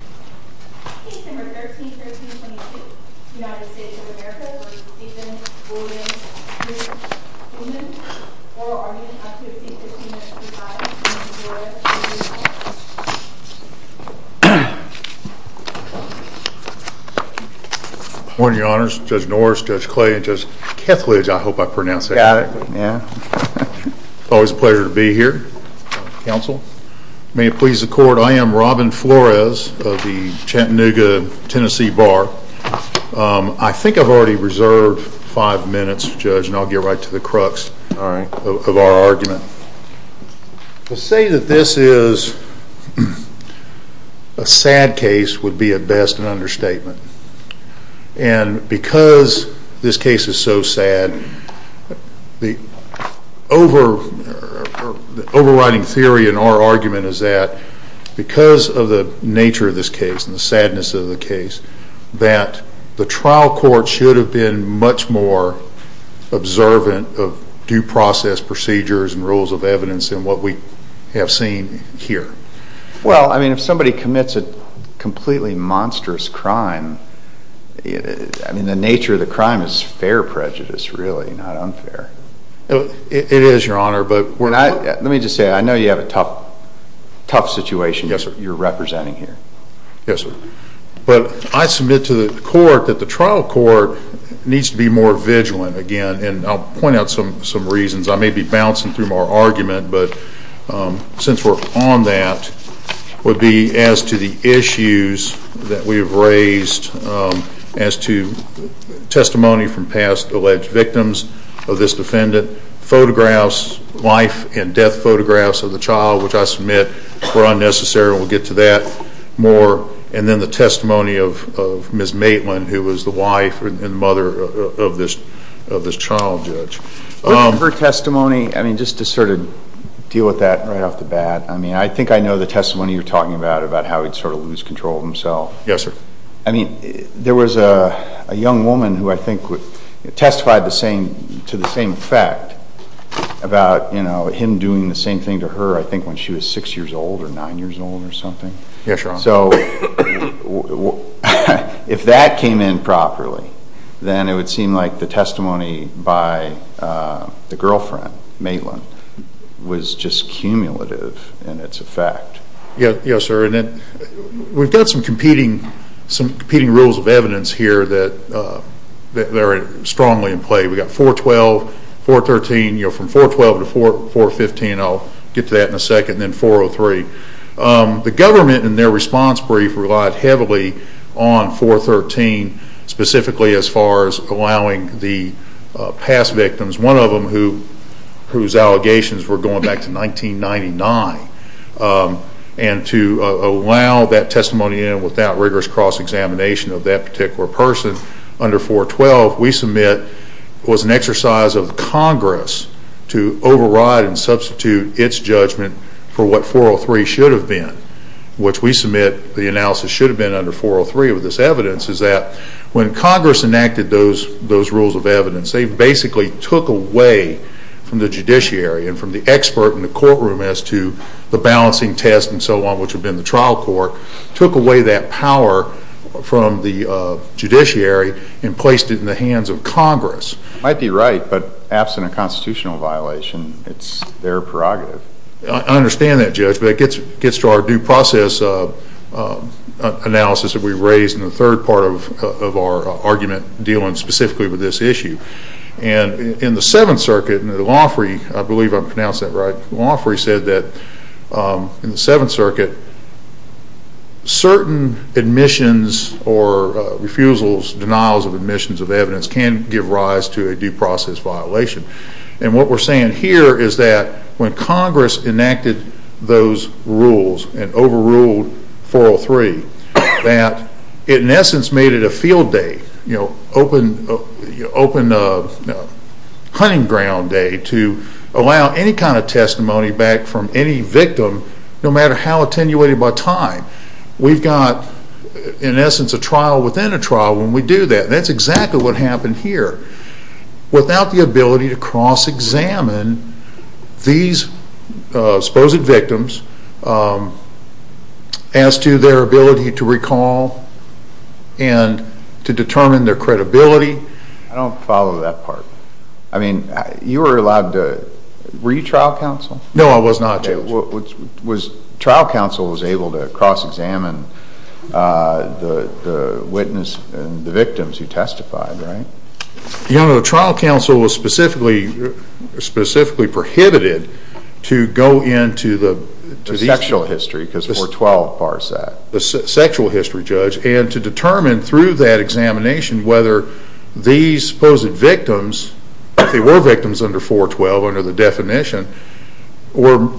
or are you going to have to exceed 15 minutes to reply? Good morning, your honors. Judge Norris, Judge Clay, and Judge Kethledge, I hope I pronounced that right. It's always a pleasure to be here. May it please the court, I am Robin Flores of the Chattanooga, Tennessee Bar. I think I've already reserved five minutes, Judge, and I'll get right to the crux of our argument. To say that this is a sad case would be at best an understatement. And because this case is so sad, the overriding theory in our argument is that because of the nature of this case and the sadness of the case, that the trial court should have been much more observant of due process procedures and rules of evidence than what we have seen here. Well, I mean, if somebody commits a completely monstrous crime, I mean, the nature of the crime is fair prejudice, really, not unfair. It is, your honor, but... Let me just say, I know you have a tough situation you're representing here. Yes, sir. But I submit to the court that the trial court needs to be more vigilant again, and I'll point out some reasons. I may be bouncing through more argument, but since we're on that, would be as to the issues that we have raised as to testimony from past alleged victims of this defendant, photographs, life and death photographs of the child, which I submit were unnecessary. We'll get to that more. And then the testimony of Ms. Maitland, who was the wife and mother of this child, Judge. Her testimony, I mean, just to sort of deal with that right off the bat, I mean, I think I know the testimony you're talking about, about how he'd sort of lose control of himself. Yes, sir. I mean, there was a young woman who I think testified to the same effect about him doing the same thing to her, I think, when she was six years old or nine years old or something. Yes, your honor. So if that came in properly, then it would seem like the testimony by the girlfriend, Maitland, was just cumulative in its effect. Yes, sir. And we've got some competing rules of evidence here that are strongly in play. We've got 412, 413, from 412 to 415. I'll get to that in a second, and then 403. The government, in their response brief, relied heavily on 413, specifically as far as allowing the past victims, one of them whose allegations were going back to 1999, and to allow that testimony in without rigorous cross-examination of that particular person under 412, we submit was an exercise of Congress to override and substitute its judgment for what 403 should have been, which we submit the analysis should have been under 403 of this evidence, is that when Congress enacted those rules of evidence, they basically took away from the judiciary and from the expert in the courtroom as to the balancing test and so on, which had been the trial court, took away that power from the judiciary and placed it in the hands of Congress. I might be right, but absent a constitutional violation, it's their prerogative. I understand that, Judge, but it gets to our due process analysis that we've raised in the third part of our argument dealing specifically with this issue. And in the Seventh Circuit, the law free, I believe I pronounced that right, the law free said that in the Seventh Circuit certain admissions or refusals, denials of admissions of evidence can give rise to a due process violation. And what we're saying here is that when Congress enacted those rules and overruled 403, that it in essence made it a field day, you know, open hunting ground day to allow any kind of testimony back from any victim no matter how attenuated by time. We've got in essence a trial within a trial when we do that. That's exactly what happened here. Without the ability to cross-examine these supposed victims as to their ability to recall and to determine their credibility. I don't follow that part. I mean, you were allowed to, were you trial counsel? No, I was not, Judge. Trial counsel was able to cross-examine the witness and the victims who testified, right? You know, the trial counsel was specifically prohibited to go into the sexual history because 412 bars that. The sexual history, Judge, and to determine through that examination whether these supposed victims, if they were victims under 412 under the definition, were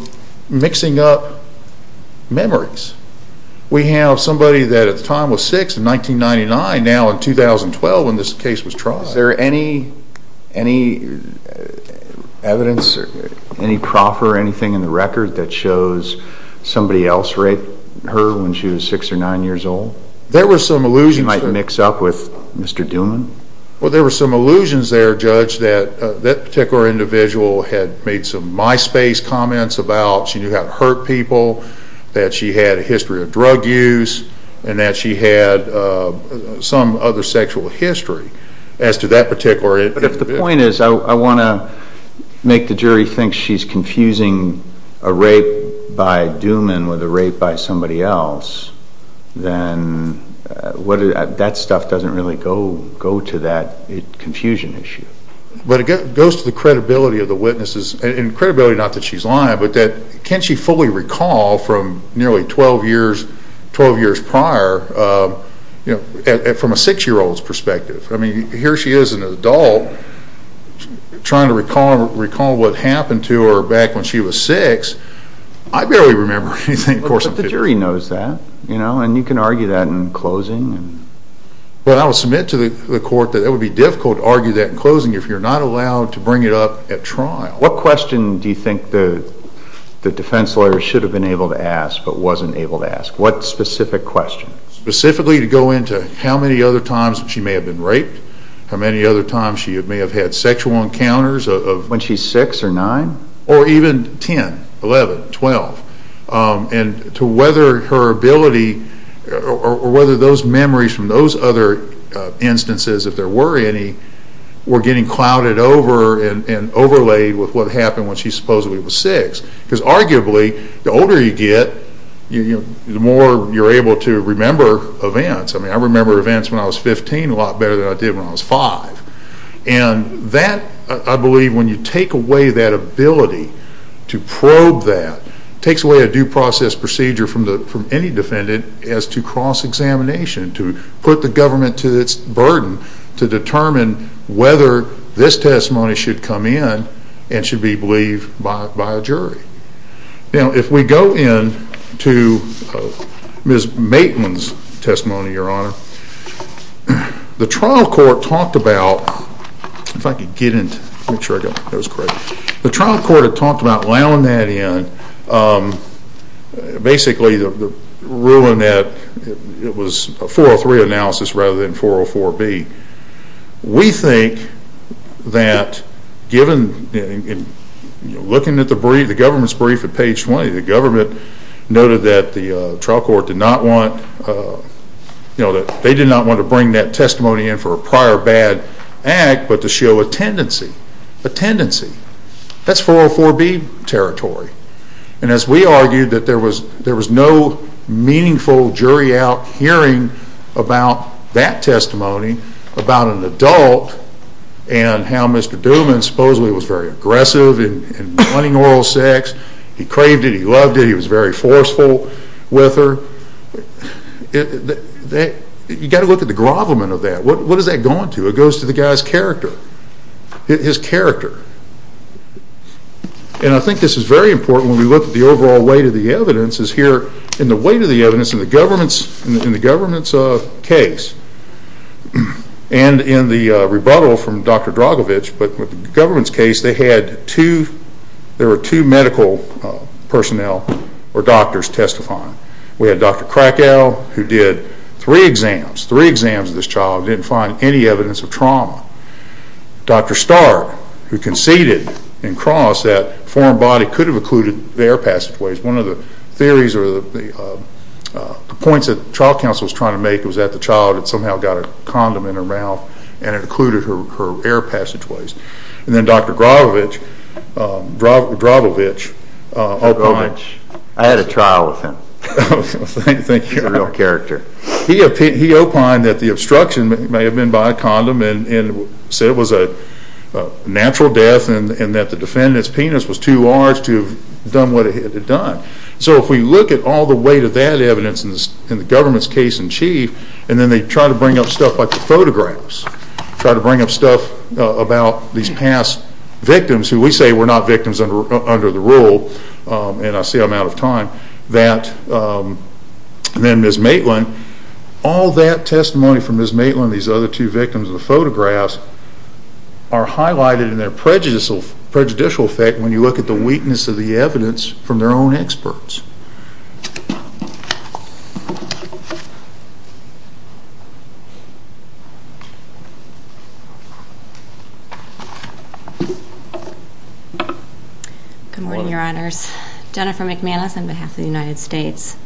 mixing up memories. We have somebody that at the time was 6 in 1999, now in 2012 when this case was tried. Is there any evidence, any proffer, anything in the record that shows somebody else raped her when she was 6 or 9 years old? There were some illusions. She might mix up with Mr. Duman? Well, there were some illusions there, Judge, that that particular individual had made some MySpace comments about. She knew how to hurt people, that she had a history of drug use, and that she had some other sexual history as to that particular individual. But if the point is I want to make the jury think she's confusing a rape by Duman with a rape by somebody else, then that stuff doesn't really go to that confusion issue. But it goes to the credibility of the witnesses, and credibility not that she's lying, but that can she fully recall from nearly 12 years prior from a 6-year-old's perspective? I mean, here she is an adult trying to recall what happened to her back when she was 6. I barely remember anything. But the jury knows that, and you can argue that in closing. Well, I will submit to the court that it would be difficult to argue that in closing if you're not allowed to bring it up at trial. What question do you think the defense lawyer should have been able to ask but wasn't able to ask? What specific question? Specifically to go into how many other times she may have been raped, how many other times she may have had sexual encounters. When she's 6 or 9? Or even 10, 11, 12. And to whether her ability or whether those memories from those other instances, if there were any, were getting clouded over and overlaid with what happened when she supposedly was 6. Because arguably, the older you get, the more you're able to remember events. I mean, I remember events when I was 15 a lot better than I did when I was 5. And that, I believe, when you take away that ability to probe that, takes away a due process procedure from any defendant as to cross-examination, to put the government to its burden to determine whether this testimony should come in and should be believed by a jury. Now, if we go into Ms. Maitland's testimony, Your Honor, the trial court talked about allowing that in. Basically, the ruling that it was a 403A analysis rather than 404B. We think that, looking at the government's brief at page 20, the government noted that the trial court did not want to bring that testimony in for a prior bad act, but to show a tendency, a tendency. That's 404B territory. And as we argued that there was no meaningful jury out hearing about that testimony, about an adult, and how Mr. Duman supposedly was very aggressive in wanting oral sex. He craved it. He loved it. He was very forceful with her. You've got to look at the grovelment of that. What does that go on to? It goes to the guy's character, his character. And I think this is very important when we look at the overall weight of the evidence, is here in the weight of the evidence in the government's case, and in the rebuttal from Dr. Dragovich, but with the government's case, there were two medical personnel or doctors testifying. We had Dr. Krakow, who did three exams, three exams of this child, and didn't find any evidence of trauma. Dr. Starr, who conceded in cross that a foreign body could have occluded the air passageways. One of the theories or the points that the trial counsel was trying to make was that the child had somehow got a condom in her mouth and it occluded her air passageways. And then Dr. Dragovich opined. I had a trial with him. Thank you. He's a real character. He opined that the obstruction may have been by a condom and said it was a natural death and that the defendant's penis was too large to have done what it had done. So if we look at all the weight of that evidence in the government's case in chief, and then they try to bring up stuff like the photographs, try to bring up stuff about these past victims who we say were not victims under the rule, and I see I'm out of time, that then Ms. Maitland, all that testimony from Ms. Maitland and these other two victims of the photographs are highlighted in their prejudicial effect when you look at the weakness of the evidence from their own experts. Jennifer McManus Good morning, Your Honors. Jennifer McManus on behalf of the United States.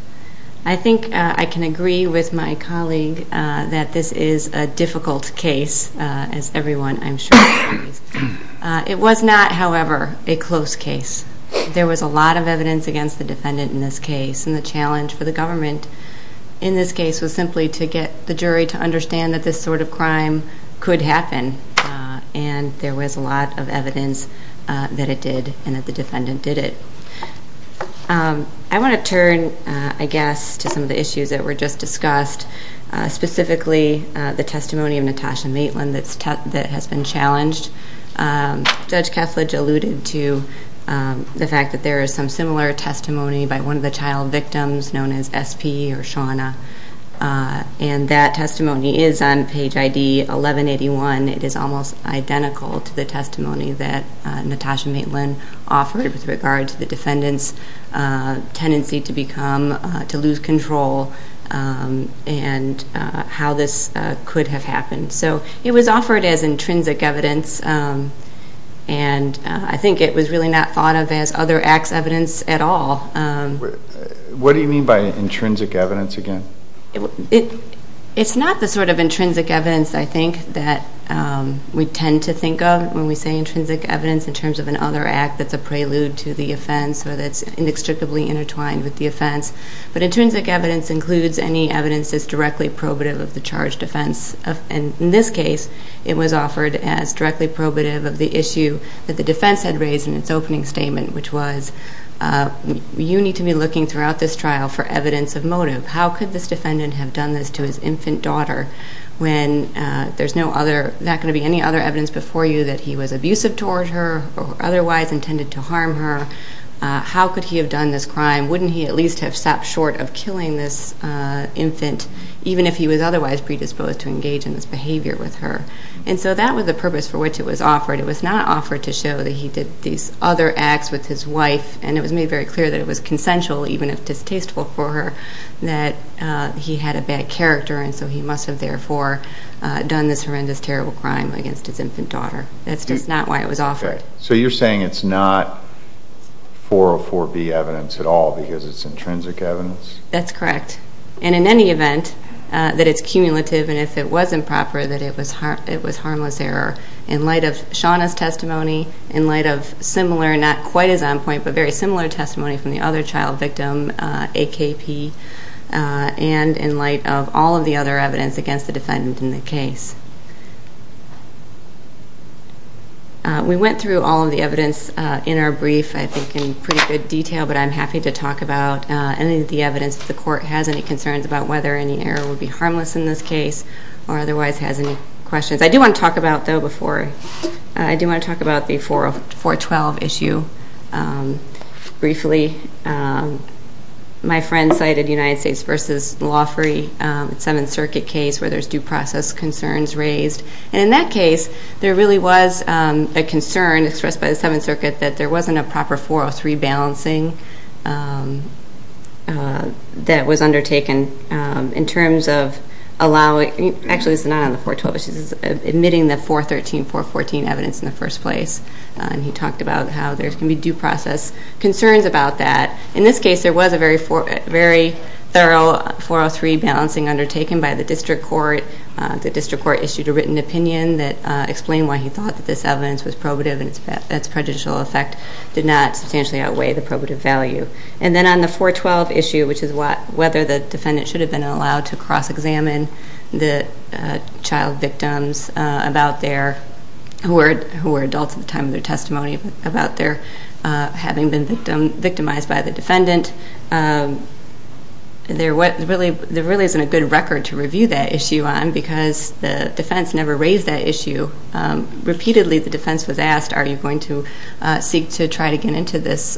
I think I can agree with my colleague that this is a difficult case, as everyone, I'm sure, agrees. It was not, however, a close case. There was a lot of evidence against the defendant in this case, and the challenge for the government in this case was simply to get the jury to understand that this sort of crime could happen, and there was a lot of evidence that it did and that the defendant did it. I want to turn, I guess, to some of the issues that were just discussed, specifically the testimony of Natasha Maitland that has been challenged. Judge Keflage alluded to the fact that there is some similar testimony by one of the child victims known as SP or Shawna, and that testimony is on page ID 1181. It is almost identical to the testimony that Natasha Maitland offered with regard to the defendant's tendency to become, to lose control and how this could have happened. So it was offered as intrinsic evidence, and I think it was really not thought of as other acts evidence at all. What do you mean by intrinsic evidence again? It's not the sort of intrinsic evidence, I think, that we tend to think of when we say intrinsic evidence in terms of another act that's a prelude to the offense or that's inextricably intertwined with the offense, but intrinsic evidence includes any evidence that's directly probative of the charged offense. In this case, it was offered as directly probative of the issue that the defense had raised in its opening statement, which was you need to be looking throughout this trial for evidence of motive. How could this defendant have done this to his infant daughter when there's no other, there's not going to be any other evidence before you that he was abusive toward her or otherwise intended to harm her? How could he have done this crime? Wouldn't he at least have stopped short of killing this infant even if he was otherwise predisposed to engage in this behavior with her? And so that was the purpose for which it was offered. It was not offered to show that he did these other acts with his wife, and it was made very clear that it was consensual even if distasteful for her that he had a bad character, and so he must have therefore done this horrendous, terrible crime against his infant daughter. That's just not why it was offered. Okay. So you're saying it's not 404B evidence at all because it's intrinsic evidence? That's correct. And in any event, that it's cumulative, and if it was improper, that it was harmless error. In light of Shauna's testimony, in light of similar, not quite as on point, but very similar testimony from the other child victim, AKP, and in light of all of the other evidence against the defendant in the case. We went through all of the evidence in our brief, I think, in pretty good detail, but I'm happy to talk about any of the evidence. If the court has any concerns about whether any error would be harmless in this case or otherwise has any questions. I do want to talk about, though, before I do want to talk about the 412 issue briefly. My friend cited United States v. Lawfrey, the Seventh Circuit case, where there's due process concerns raised. And in that case, there really was a concern expressed by the Seventh Circuit that there wasn't a proper 403 balancing that was undertaken in terms of allowing, actually it's not on the 412 issue, it's admitting the 413, 414 evidence in the first place. And he talked about how there can be due process concerns about that. In this case, there was a very thorough 403 balancing undertaken by the district court. The district court issued a written opinion that explained why he thought that this evidence was probative and its prejudicial effect did not substantially outweigh the probative value. And then on the 412 issue, which is whether the defendant should have been allowed to cross-examine the child victims who were adults at the time of their testimony about their having been victimized by the defendant, there really isn't a good record to review that issue on because the defense never raised that issue. Repeatedly, the defense was asked, are you going to seek to try to get into this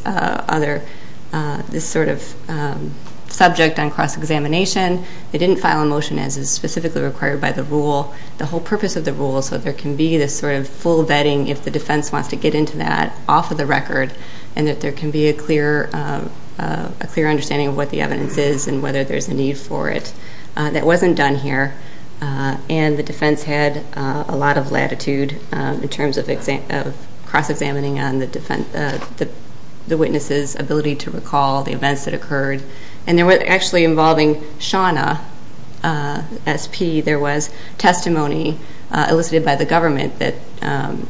sort of subject on cross-examination? They didn't file a motion as is specifically required by the rule. The whole purpose of the rule is so there can be this sort of full vetting if the defense wants to get into that off of the record and that there can be a clear understanding of what the evidence is and whether there's a need for it. That wasn't done here. And the defense had a lot of latitude in terms of cross-examining on the witness's ability to recall the events that occurred. And there were actually involving Shawna, SP, there was testimony elicited by the government that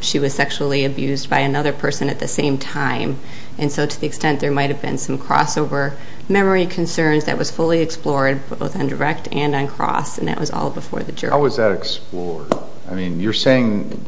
she was sexually abused by another person at the same time. And so to the extent there might have been some crossover memory concerns that was fully explored both on direct and on cross, and that was all before the jury. How was that explored? I mean, you're saying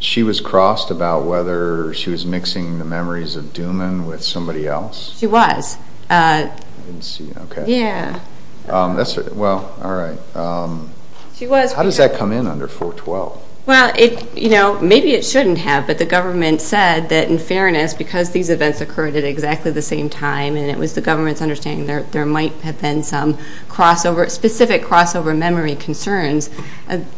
she was crossed about whether she was mixing the memories of Duman with somebody else? She was. I didn't see. Okay. Yeah. Well, all right. She was. How does that come in under 412? Well, you know, maybe it shouldn't have, but the government said that in fairness, because these events occurred at exactly the same time and it was the government's understanding that there might have been some specific crossover memory concerns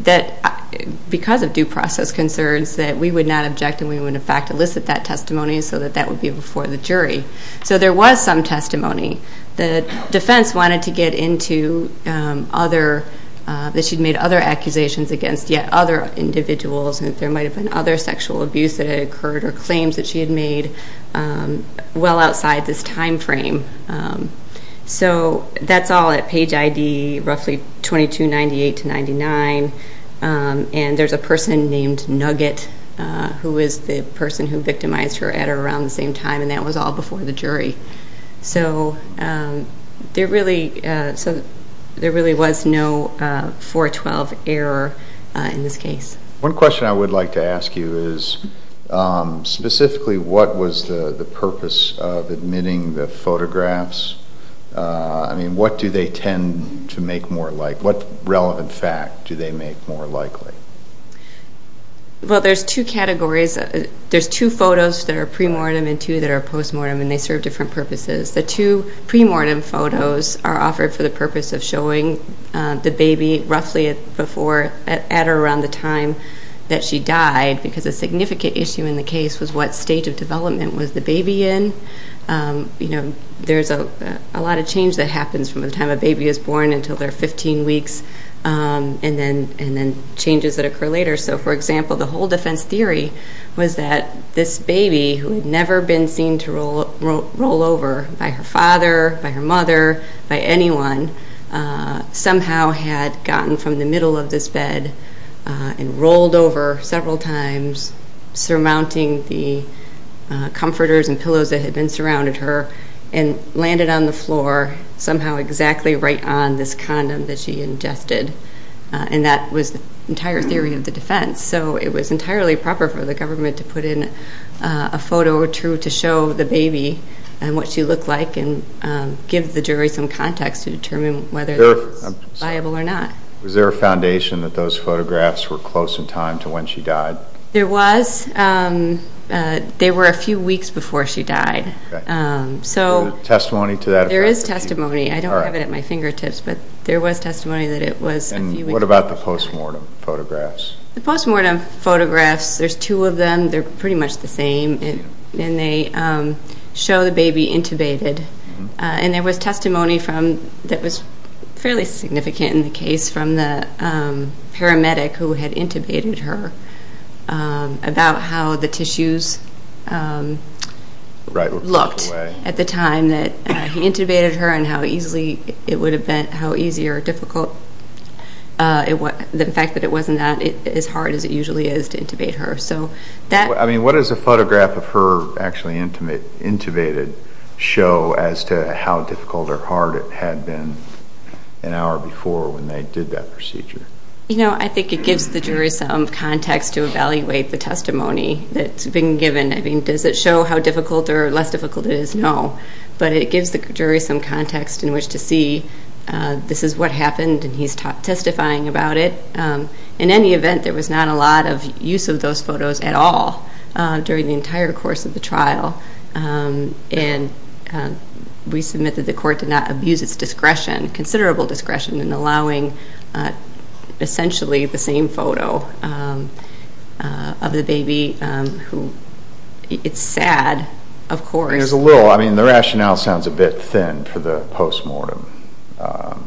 that because of due process concerns that we would not object and we would in fact elicit that testimony so that that would be before the jury. So there was some testimony. The defense wanted to get into that she'd made other accusations against yet other individuals and that there might have been other sexual abuse that had occurred or claims that she had made well outside this time frame. So that's all at page ID roughly 2298 to 99, and there's a person named Nugget who is the person who victimized her at or around the same time, and that was all before the jury. So there really was no 412 error in this case. One question I would like to ask you is specifically what was the purpose of admitting the photographs? I mean, what do they tend to make more likely? What relevant fact do they make more likely? Well, there's two categories. There's two photos that are premortem and two that are postmortem, and they serve different purposes. The two premortem photos are offered for the purpose of showing the baby roughly at or around the time that she died because a significant issue in the case was what stage of development was the baby in. There's a lot of change that happens from the time a baby is born until they're 15 weeks and then changes that occur later. So, for example, the whole defense theory was that this baby, who had never been seen to roll over by her father, by her mother, by anyone, somehow had gotten from the middle of this bed and rolled over several times, surmounting the comforters and pillows that had been surrounding her and landed on the floor somehow exactly right on this condom that she ingested. And that was the entire theory of the defense. So it was entirely proper for the government to put in a photo to show the baby and what she looked like and give the jury some context to determine whether that's viable or not. Was there a foundation that those photographs were close in time to when she died? There was. They were a few weeks before she died. So there is testimony. I don't have it at my fingertips, but there was testimony that it was a few weeks before she died. And what about the postmortem photographs? The postmortem photographs, there's two of them. They're pretty much the same. And they show the baby intubated. And there was testimony that was fairly significant in the case from the paramedic who had intubated her about how the tissues looked at the time that he intubated her and how easy or difficult it would have been. The fact that it wasn't as hard as it usually is to intubate her. What does a photograph of her actually intubated show as to how difficult or hard it had been an hour before when they did that procedure? I think it gives the jury some context to evaluate the testimony that's been given. Does it show how difficult or less difficult it is? No. But it gives the jury some context in which to see this is what happened, and he's testifying about it. In any event, there was not a lot of use of those photos at all during the entire course of the trial. And we submit that the court did not abuse its discretion, considerable discretion, in allowing essentially the same photo of the baby. It's sad, of course. There's a little. I mean, the rationale sounds a bit thin for the postmortem. I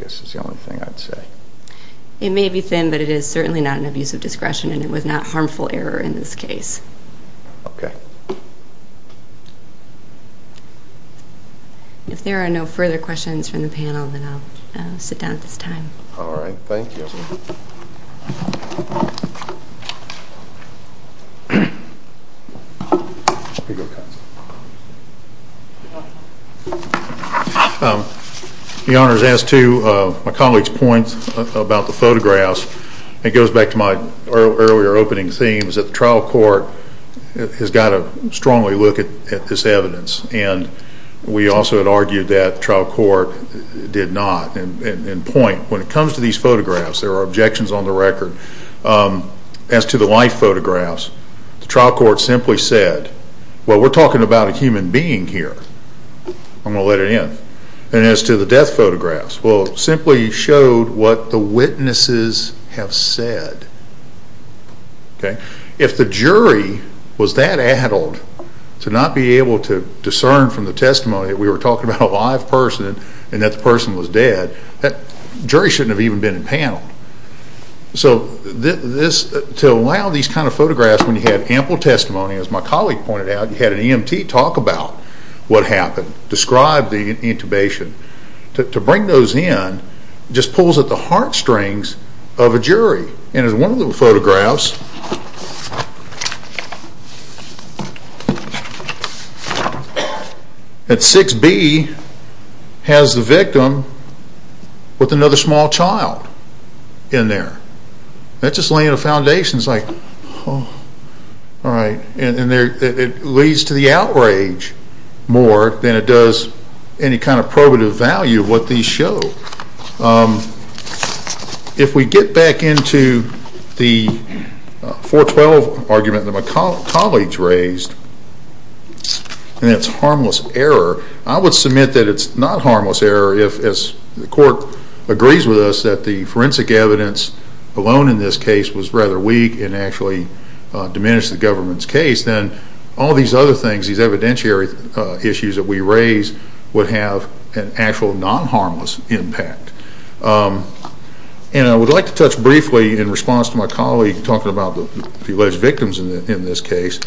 guess that's the only thing I'd say. It may be thin, but it is certainly not an abuse of discretion, and it was not harmful error in this case. Okay. If there are no further questions from the panel, then I'll sit down at this time. All right. Thank you. Counsel. Your Honor, as to my colleague's point about the photographs, it goes back to my earlier opening theme, is that the trial court has got to strongly look at this evidence, and we also had argued that the trial court did not. When it comes to these photographs, there are objections on the record. As to the life photographs, the trial court simply said, well, we're talking about a human being here. I'm going to let it in. And as to the death photographs, well, it simply showed what the witnesses have said. If the jury was that addled to not be able to discern from the testimony that we were talking about a live person and that the person was dead, the jury shouldn't have even been impaneled. So to allow these kind of photographs when you have ample testimony, as my colleague pointed out, you had an EMT talk about what happened, describe the intubation. To bring those in just pulls at the heartstrings of a jury. And in one of the photographs, at 6B has the victim with another small child in there. That's just laying a foundation. It's like, oh, all right. And it leads to the outrage more than it does any kind of probative value of what these show. If we get back into the 412 argument that my colleague raised, and it's harmless error, I would submit that it's not harmless error if, as the court agrees with us, that the forensic evidence alone in this case was rather weak and actually diminished the government's case. Then all these other things, these evidentiary issues that we raise, would have an actual non-harmless impact. And I would like to touch briefly, in response to my colleague talking about the alleged victims in this case,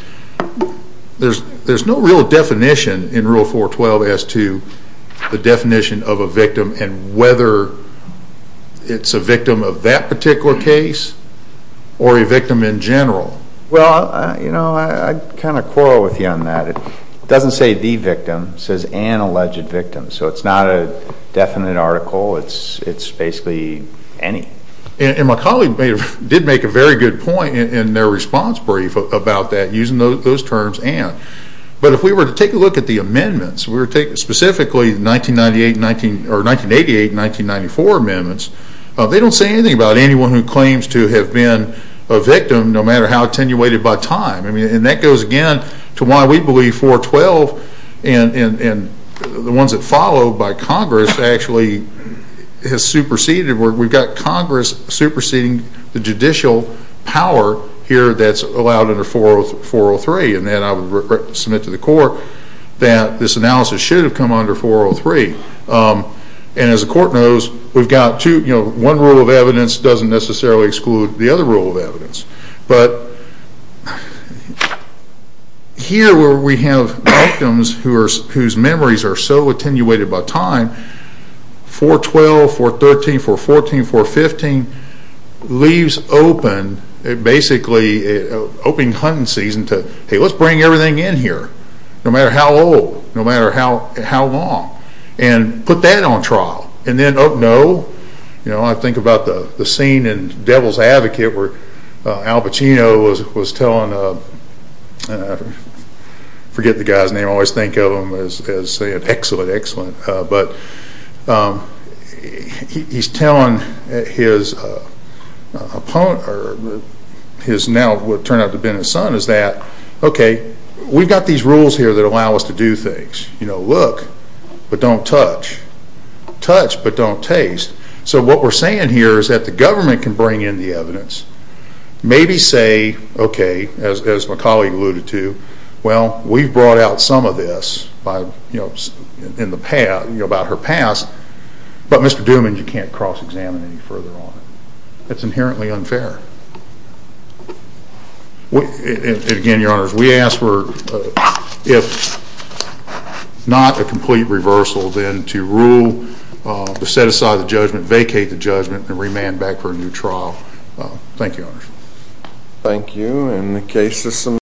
there's no real definition in Rule 412 as to the definition of a victim and whether it's a victim of that particular case or a victim in general. Well, you know, I kind of quarrel with you on that. It doesn't say the victim. It says an alleged victim. So it's not a definite article. It's basically any. And my colleague did make a very good point in their response brief about that using those terms, and. But if we were to take a look at the amendments, specifically the 1988 and 1994 amendments, they don't say anything about anyone who claims to have been a victim no matter how attenuated by time. And that goes, again, to why we believe 412 and the ones that follow by Congress actually have superseded. We've got Congress superseding the judicial power here that's allowed under 403. And I would submit to the Court that this analysis should have come under 403. And as the Court knows, we've got two. One rule of evidence doesn't necessarily exclude the other rule of evidence. But here where we have victims whose memories are so attenuated by time, 412, 413, 414, 415 leaves open, basically, an open hunting season to, hey, let's bring everything in here, no matter how old, no matter how long, and put that on trial. And then, oh, no, you know, I think about the scene in Devil's Advocate where Al Pacino was telling, I forget the guy's name, I always think of him as saying excellent, excellent. But he's telling his now what turned out to have been his son is that, okay, we've got these rules here that allow us to do things. You know, look, but don't touch. Touch, but don't taste. So what we're saying here is that the government can bring in the evidence, maybe say, okay, as my colleague alluded to, well, we've brought out some of this about her past, but, Mr. Duman, you can't cross-examine any further on it. That's inherently unfair. And again, Your Honors, we ask for, if not a complete reversal, then to rule, to set aside the judgment, vacate the judgment, and remand back for a new trial. Thank you, Your Honors. Thank you.